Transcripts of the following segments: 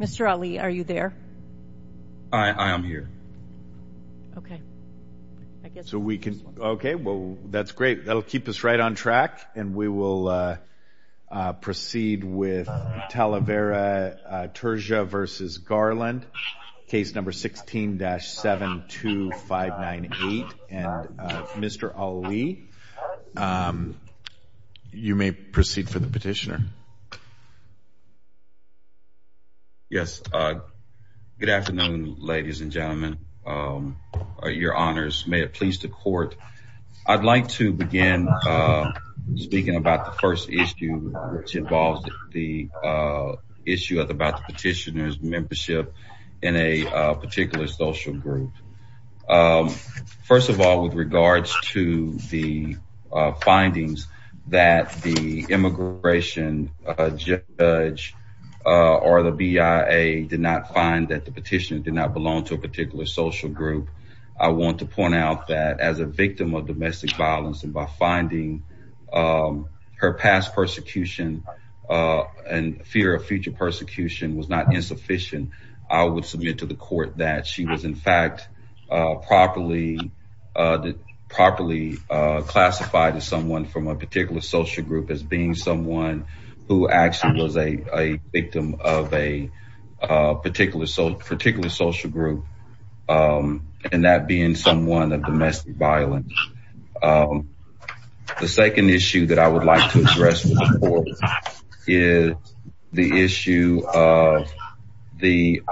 Mr. Ali, are you there? I am here. Okay, well that's great, that'll keep us right on track and we will proceed with Talavera-Turja v. Garland, case number 16-72598 and Mr. Ali, you may proceed for the petitioner. Good afternoon, ladies and gentlemen, your honors, may it please the court. I'd like to begin speaking about the first issue which involves the issue about the petitioner's membership in a particular social group. First of all, with regards to the findings that the immigration judge or the BIA did not find that the petitioner did not belong to a particular social group, I want to point out that as a victim of domestic violence and by finding her past persecution and fear of future persecution was not insufficient, I would submit to the court that she was in fact properly classified as someone from a particular social group as being someone who actually was a victim of a particular social group and that being someone of domestic violence. The second issue that I would like to address with the court is the issue of the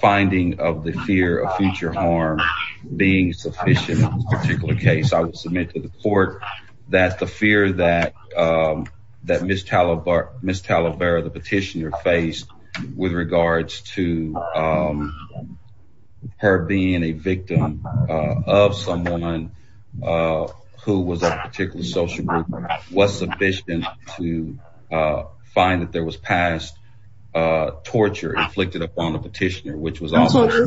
finding of the fear of future harm being sufficient in this particular case. I would submit to the court that the fear that Ms. Talavera, the petitioner, faced with regards to her being a victim of someone who was a particular social group was sufficient to find that there was past torture inflicted upon the petitioner.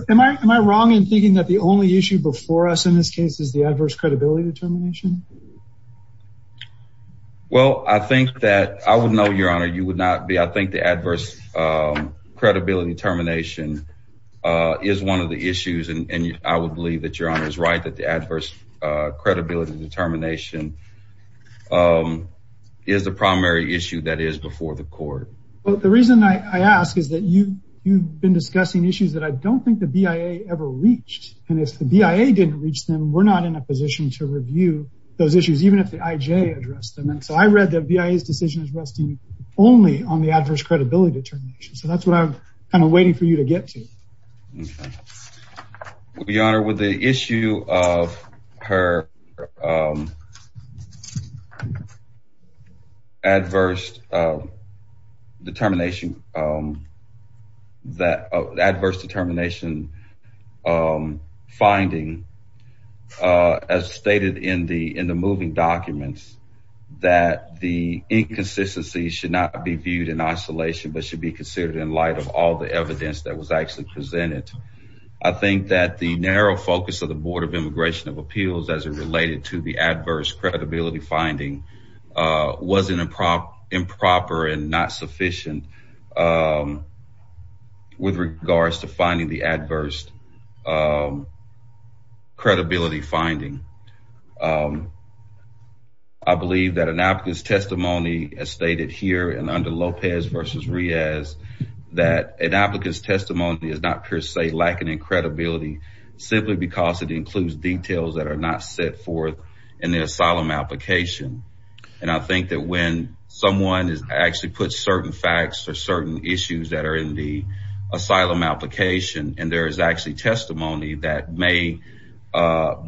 Am I wrong in thinking that the only issue before us in this case is the adverse credibility determination? Well, I think that I would know, Your Honor, you would not be. I think the adverse credibility determination is one of the issues and I would believe that Your Honor is right that the adverse credibility determination is the primary issue that is before the court. Well, the reason I ask is that you've been discussing issues that I don't think the BIA ever reached and if the BIA didn't reach them, we're not in a position to review those issues, even if the IJ addressed them. And so I read that BIA's decision is resting only on the adverse credibility determination. So that's what I'm kind of waiting for you to get to. Your Honor, with the issue of her adverse determination, that adverse determination finding, as stated in the moving documents, that the inconsistency should not be viewed in isolation but should be considered in light of all the evidence that was actually presented. I think that the narrow focus of the Board of Immigration of Appeals as it related to the adverse credibility finding wasn't improper and not sufficient with regards to finding the adverse credibility finding. I believe that an applicant's testimony, as stated here and under Lopez v. Riaz, that an applicant's testimony is not per se lacking in credibility simply because it includes details that are not set forth in the asylum application. And I think that when someone actually puts certain facts or certain issues that are in the asylum application and there is actually testimony that may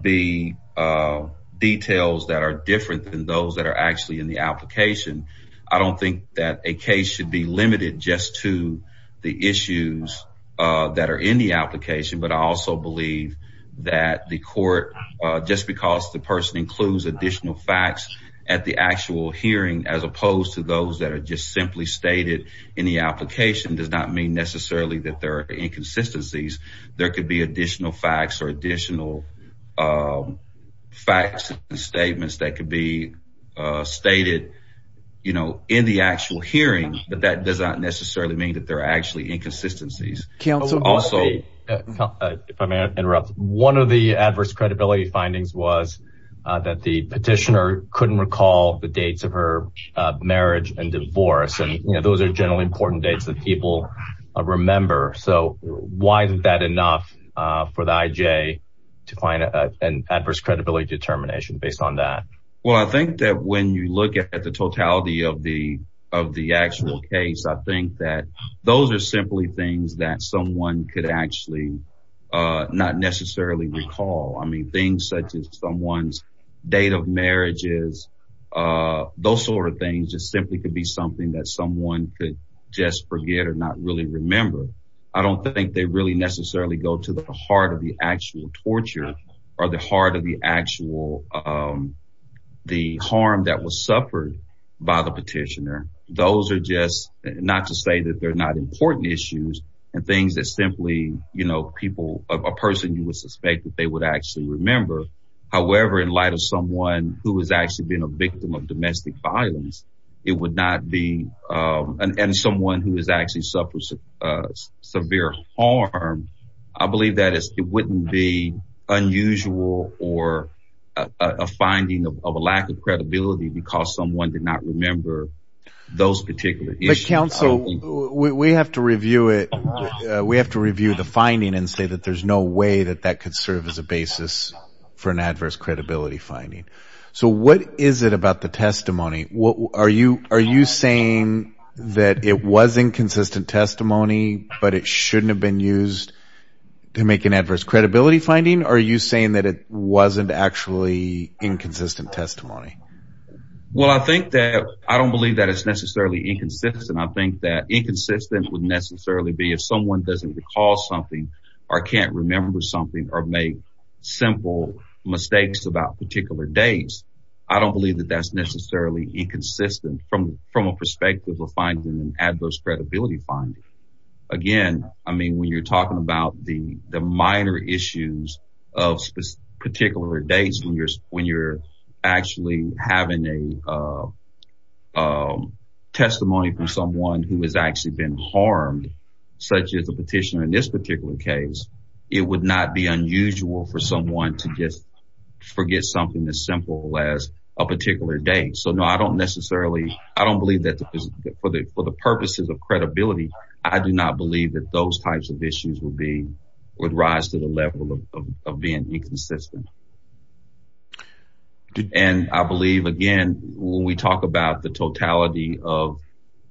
be details that are different than those that are actually in the application, I don't think that a case should be limited just to the issues that are in the application. But I also believe that the court, just because the person includes additional facts at the actual hearing as opposed to those that are just simply stated in the application, does not mean necessarily that there are inconsistencies. There could be additional facts or additional facts and statements that could be stated in the actual hearing, but that does not necessarily mean that there are actually inconsistencies. If I may interrupt, one of the adverse credibility findings was that the petitioner couldn't recall the dates of her marriage and divorce. Those are generally important dates that people remember. So why isn't that enough for the IJ to find an adverse credibility determination based on that? Well, I think that when you look at the totality of the of the actual case, I think that those are simply things that someone could actually not necessarily recall. I mean, things such as someone's date of marriages, those sort of things just simply could be something that someone could just forget or not really remember. I don't think they really necessarily go to the heart of the actual torture or the heart of the actual the harm that was suffered by the petitioner. Those are just not to say that they're not important issues and things that simply, you know, people, a person you would suspect that they would actually remember. However, in light of someone who has actually been a victim of domestic violence, it would not be and someone who has actually suffered severe harm. I believe that it wouldn't be unusual or a finding of a lack of credibility because someone did not remember those particular issues. Counsel, we have to review it. We have to review the finding and say that there's no way that that could serve as a basis for an adverse credibility finding. So what is it about the testimony? What are you are you saying that it was inconsistent testimony, but it shouldn't have been used to make an adverse credibility finding? Are you saying that it wasn't actually inconsistent testimony? Well, I think that I don't believe that it's necessarily inconsistent. I think that inconsistent would necessarily be if someone doesn't recall something or can't remember something or make simple mistakes about particular days. I don't believe that that's necessarily inconsistent from from a perspective of finding an adverse credibility finding. Again, I mean, when you're talking about the the minor issues of particular dates, when you're when you're actually having a testimony from someone who has actually been harmed, such as a petitioner in this particular case, it would not be unusual for someone to just forget something as simple as a particular day. So, no, I don't necessarily I don't believe that for the purposes of credibility. I do not believe that those types of issues would be would rise to the level of being inconsistent. And I believe, again, when we talk about the totality of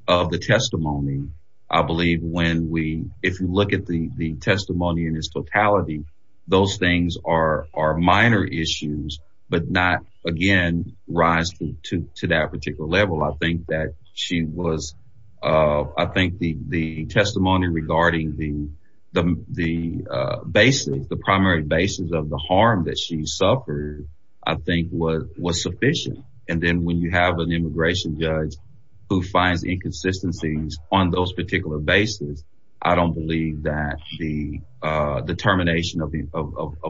of the testimony, I believe when we if you look at the testimony in its totality, those things are are minor issues, but not, again, rise to that particular level. I think that she was I think the the testimony regarding the the the basis, the primary basis of the harm that she suffered, I think, was was sufficient. And then when you have an immigration judge who finds inconsistencies on those particular bases, I don't believe that the determination of the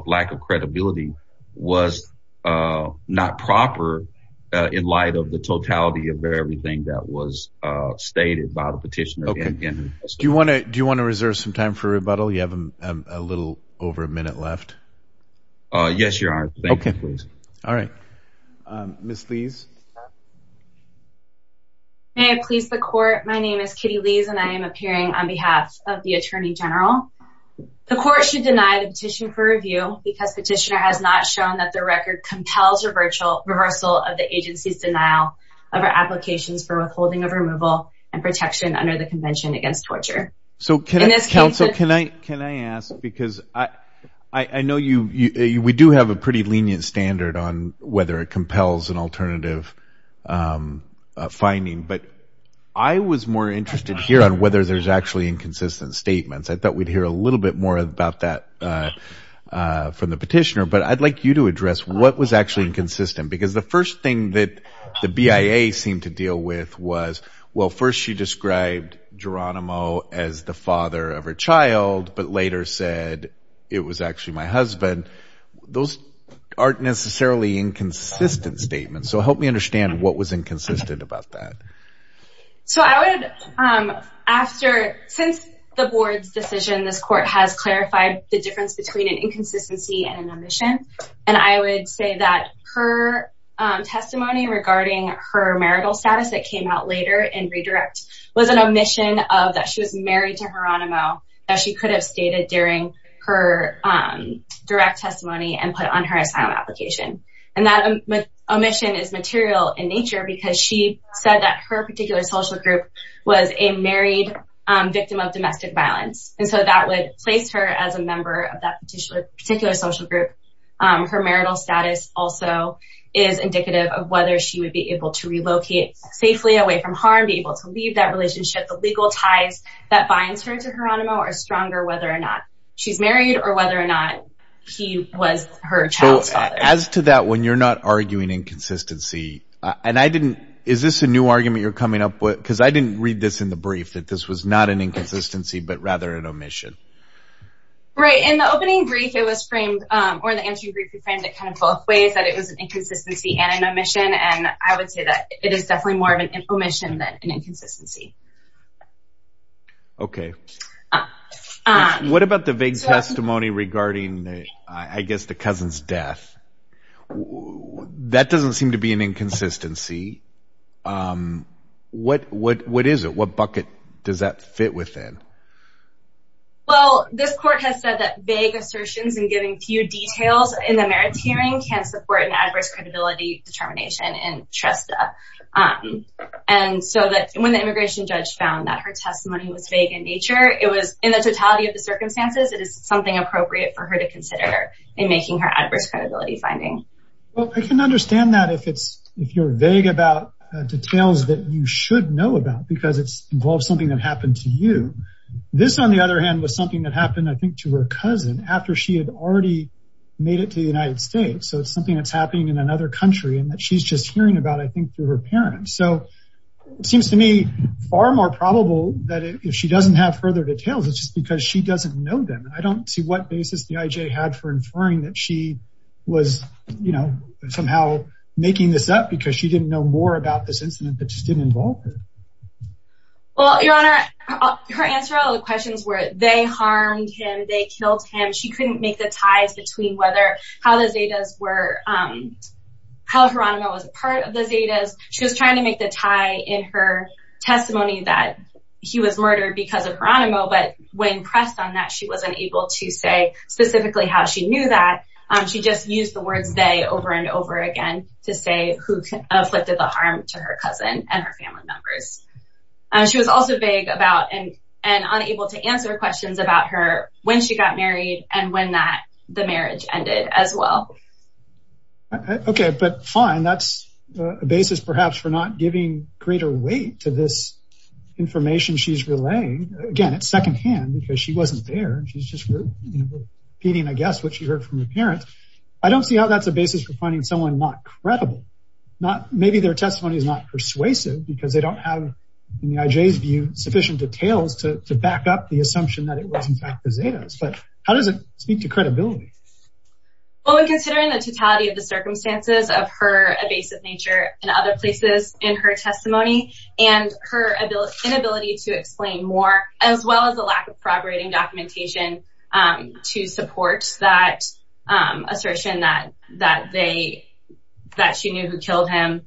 lack of credibility was not proper in light of the totality of everything that was stated by the petitioner. And do you want to do you want to reserve some time for rebuttal? You have a little over a minute left. Yes, you are. OK, please. All right. Miss Lees. May I please the court. My name is Kitty Lees and I am appearing on behalf of the attorney general. The court should deny the petition for review because petitioner has not shown that the record compels a virtual reversal of the agency's denial of our applications for withholding of removal and protection under the Convention Against Torture. So can this counsel can I can I ask because I know you we do have a pretty lenient standard on whether it compels an alternative finding. But I was more interested here on whether there's actually inconsistent statements. I thought we'd hear a little bit more about that from the petitioner. But I'd like you to address what was actually inconsistent, because the first thing that the BIA seemed to deal with was, well, first she described Geronimo as the father of her child, but later said it was actually my husband. Those aren't necessarily inconsistent statements. So help me understand what was inconsistent about that. So I would after since the board's decision, this court has clarified the difference between an inconsistency and an omission. And I would say that her testimony regarding her marital status that came out later and redirect was an omission of that. She was married to Geronimo that she could have stated during her direct testimony and put on her asylum application. And that omission is material in nature because she said that her particular social group was a married victim of domestic violence. And so that would place her as a member of that particular social group. Her marital status also is indicative of whether she would be able to relocate safely away from harm, be able to leave that relationship. The legal ties that binds her to Geronimo are stronger, whether or not she's married or whether or not he was her child. As to that, when you're not arguing inconsistency and I didn't. Is this a new argument you're coming up with? Because I didn't read this in the brief that this was not an inconsistency, but rather an omission. Right. In the opening brief, it was framed or the answer you could find it kind of both ways that it was an inconsistency and an omission. And I would say that it is definitely more of an omission than an inconsistency. OK, what about the vague testimony regarding, I guess, the cousin's death? That doesn't seem to be an inconsistency. What what what is it? What bucket does that fit within? Well, this court has said that vague assertions and giving few details in the merits hearing can support an adverse credibility determination and trust. And so that when the immigration judge found that her testimony was vague in nature, it was in the totality of the circumstances. It is something appropriate for her to consider in making her adverse credibility finding. Well, I can understand that if it's if you're vague about details that you should know about because it's something that happened to you. This, on the other hand, was something that happened, I think, to her cousin after she had already made it to the United States. So it's something that's happening in another country and that she's just hearing about, I think, through her parents. So it seems to me far more probable that if she doesn't have further details, it's just because she doesn't know them. I don't see what basis the IJ had for inferring that she was, you know, somehow making this up because she didn't know more about this incident that just didn't involve her. Well, Your Honor, her answer to all the questions were they harmed him, they killed him. She couldn't make the ties between whether how the Zetas were, how Geronimo was a part of the Zetas. She was trying to make the tie in her testimony that he was murdered because of Geronimo. But when pressed on that, she wasn't able to say specifically how she knew that. She just used the words they over and over again to say who afflicted the harm to her cousin and her family members. She was also vague about and unable to answer questions about her when she got married and when that the marriage ended as well. Okay, but fine, that's a basis perhaps for not giving greater weight to this information she's relaying. Again, it's secondhand because she wasn't there. She's just repeating, I guess, what she heard from her parents. I don't see how that's a basis for finding someone not credible. Maybe their testimony is not persuasive because they don't have, in the IJ's view, sufficient details to back up the assumption that it was in fact the Zetas. But how does it speak to credibility? Well, when considering the totality of the circumstances of her evasive nature in other places in her testimony and her inability to explain more, as well as the lack of corroborating documentation to support that assertion that she knew who killed him,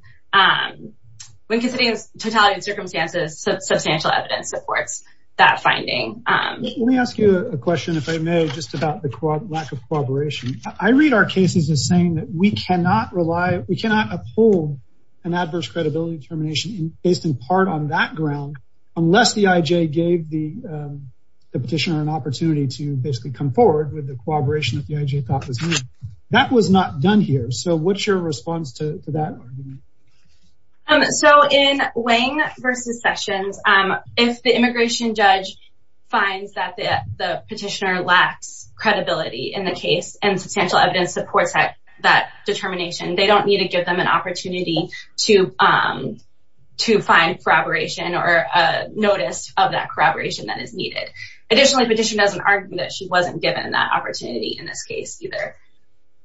when considering the totality of the circumstances, substantial evidence supports that finding. Let me ask you a question, if I may, just about the lack of corroboration. I read our cases as saying that we cannot uphold an adverse credibility determination based in part on that ground unless the IJ gave the petitioner an opportunity to basically come forward with the corroboration that the IJ thought was needed. That was not done here. So what's your response to that argument? So in Wang versus Sessions, if the immigration judge finds that the petitioner lacks credibility in the case and substantial evidence supports that determination, they don't need to give them an opportunity to find corroboration or notice of that corroboration that is needed. Additionally, the petitioner doesn't argue that she wasn't given that opportunity in this case either.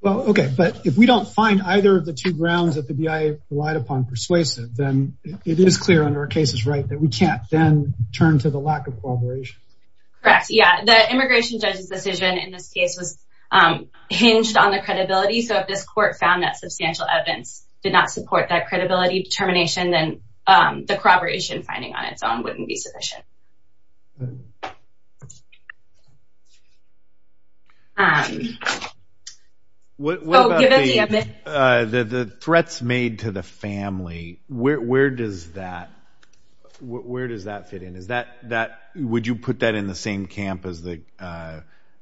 Okay, but if we don't find either of the two grounds that the BIA relied upon persuasive, then it is clear under a case's right that we can't then turn to the lack of corroboration. Correct, yeah. The immigration judge's decision in this case was hinged on the credibility. So if this court found that substantial evidence did not support that credibility determination, then the corroboration finding on its own wouldn't be sufficient. The threats made to the family, where does that fit in? Would you put that in the same camp as the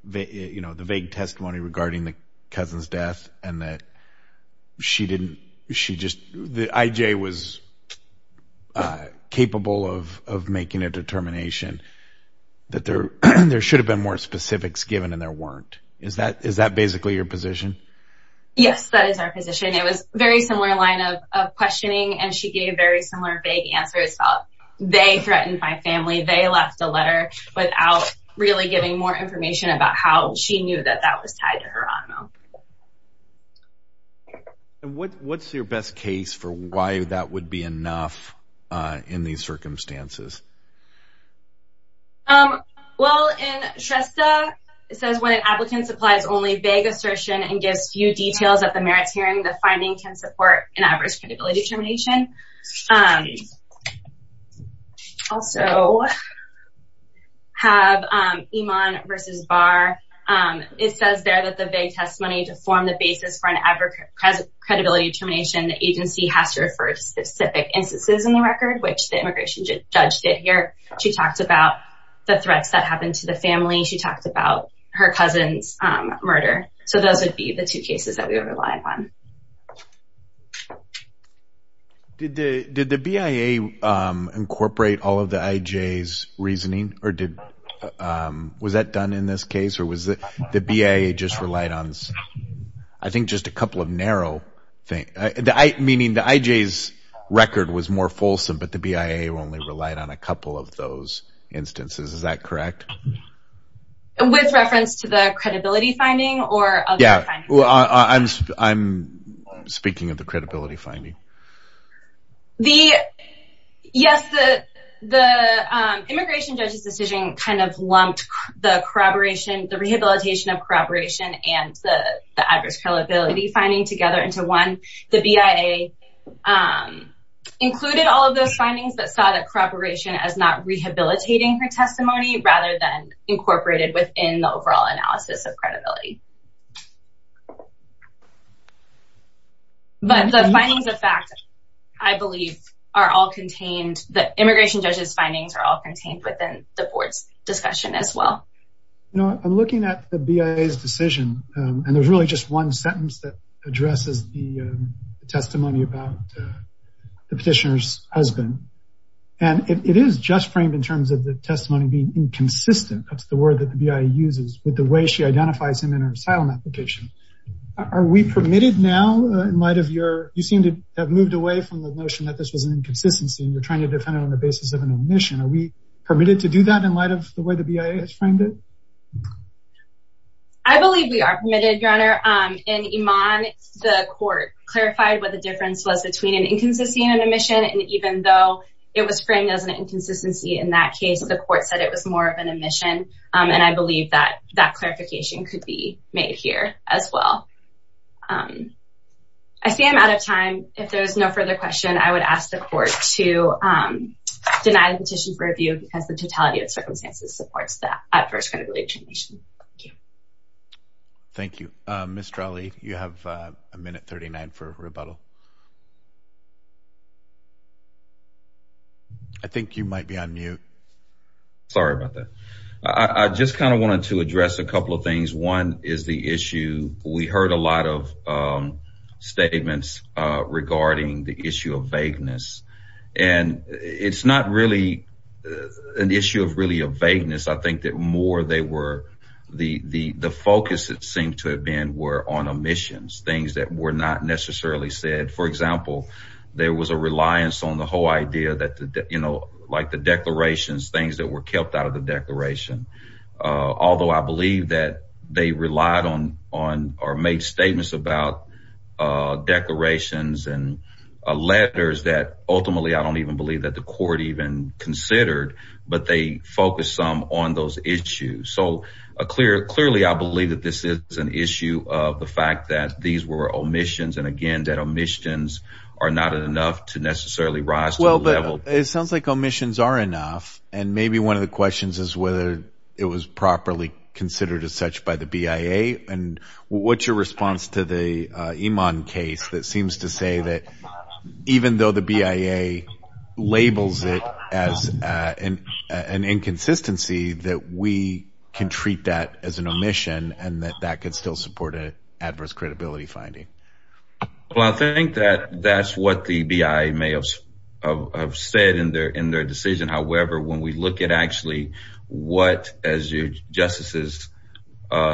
vague testimony regarding the cousin's death and that the IJ was capable of making a determination that there should have been more specifics given and there weren't? Is that basically your position? Yes, that is our position. It was a very similar line of questioning, and she gave a very similar vague answer. It's about they threatened my family. They left a letter without really giving more information about how she knew that that was tied to her honor. What's your best case for why that would be enough in these circumstances? Well, in Shrestha, it says when an applicant supplies only vague assertion and gives few details at the merits hearing, the finding can support an adverse credibility determination. Also, have Iman versus Barr. It says there that the vague testimony to form the basis for an adverse credibility determination, the agency has to refer to specific instances in the record, which the immigration judge did here. She talked about the threats that happened to the family. She talked about her cousin's murder. So those would be the two cases that we would rely upon. Did the BIA incorporate all of the IJ's reasoning? Was that done in this case, or was the BIA just relied on, I think, just a couple of narrow things? Meaning the IJ's record was more fulsome, but the BIA only relied on a couple of those instances. Is that correct? With reference to the credibility finding or other findings? Yeah, I'm speaking of the credibility finding. Yes, the immigration judge's decision kind of lumped the corroboration, the rehabilitation of corroboration and the adverse credibility finding together into one. The BIA included all of those findings that saw the corroboration as not rehabilitating her testimony rather than incorporated within the overall analysis of credibility. But the findings of fact, I believe, are all contained. The immigration judge's findings are all contained within the board's discussion as well. I'm looking at the BIA's decision, and there's really just one sentence that addresses the testimony about the petitioner's husband. And it is just framed in terms of the testimony being inconsistent, that's the word that the BIA uses, with the way she identifies him in her asylum application. Are we permitted now, in light of your, you seem to have moved away from the notion that this was an inconsistency and you're trying to defend it on the basis of an omission. Are we permitted to do that in light of the way the BIA has framed it? I believe we are permitted, Your Honor. In Iman, the court clarified what the difference was between an inconsistency and an omission. And even though it was framed as an inconsistency in that case, the court said it was more of an omission. And I believe that that clarification could be made here as well. I see I'm out of time. If there's no further question, I would ask the court to deny the petition for review because the totality of circumstances supports that adverse credibility information. Thank you. Thank you. Mr. Ali, you have a minute 39 for rebuttal. I think you might be on mute. Sorry about that. I just kind of wanted to address a couple of things. One is the issue we heard a lot of statements regarding the issue of vagueness. And it's not really an issue of really a vagueness. I think that more they were the focus that seemed to have been were on omissions, things that were not necessarily said. For example, there was a reliance on the whole idea that, you know, like the declarations, things that were kept out of the declaration. Although I believe that they relied on or made statements about declarations and letters that ultimately I don't even believe that the court even considered. But they focus some on those issues. So clearly I believe that this is an issue of the fact that these were omissions. And again, that omissions are not enough to necessarily rise to a level. It sounds like omissions are enough. And maybe one of the questions is whether it was properly considered as such by the BIA. And what's your response to the Iman case that seems to say that even though the BIA labels it as an inconsistency, that we can treat that as an omission and that that could still support an adverse credibility finding? Well, I think that that's what the BIA may have said in their in their decision. However, when we look at actually what as your justices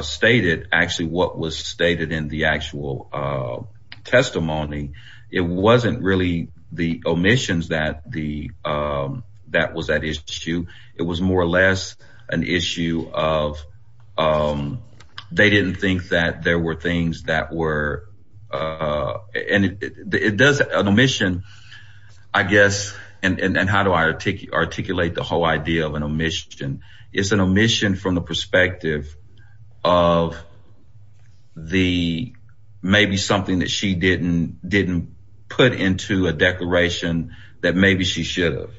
stated, actually what was stated in the actual testimony, it wasn't really the omissions that the that was at issue. It was more or less an issue of they didn't think that there were things that were and it does an omission, I guess. And how do I articulate the whole idea of an omission? It's an omission from the perspective of the maybe something that she didn't didn't put into a declaration that maybe she should have.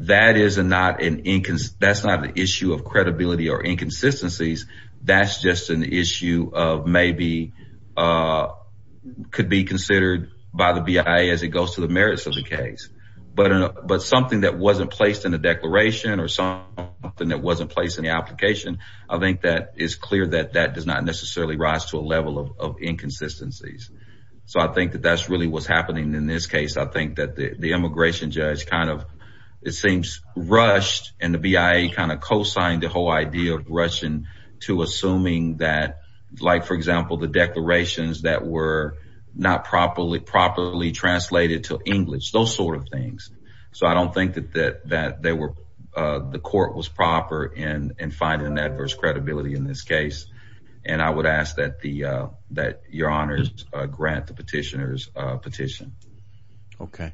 That is not an inconsistency. That's not the issue of credibility or inconsistencies. That's just an issue of maybe could be considered by the BIA as it goes to the merits of the case. But but something that wasn't placed in the declaration or something that wasn't placed in the application, I think that is clear that that does not necessarily rise to a level of inconsistencies. So I think that that's really what's happening in this case. I think that the immigration judge kind of it seems rushed and the BIA kind of co-signed the whole idea of Russian to assuming that, like, for example, the declarations that were not properly, properly translated to English, those sort of things. So I don't think that that that they were the court was proper and find an adverse credibility in this case. And I would ask that the that your honors grant the petitioners petition. OK.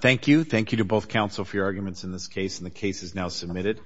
Thank you. Thank you to both counsel for your arguments in this case. And the case is now submitted.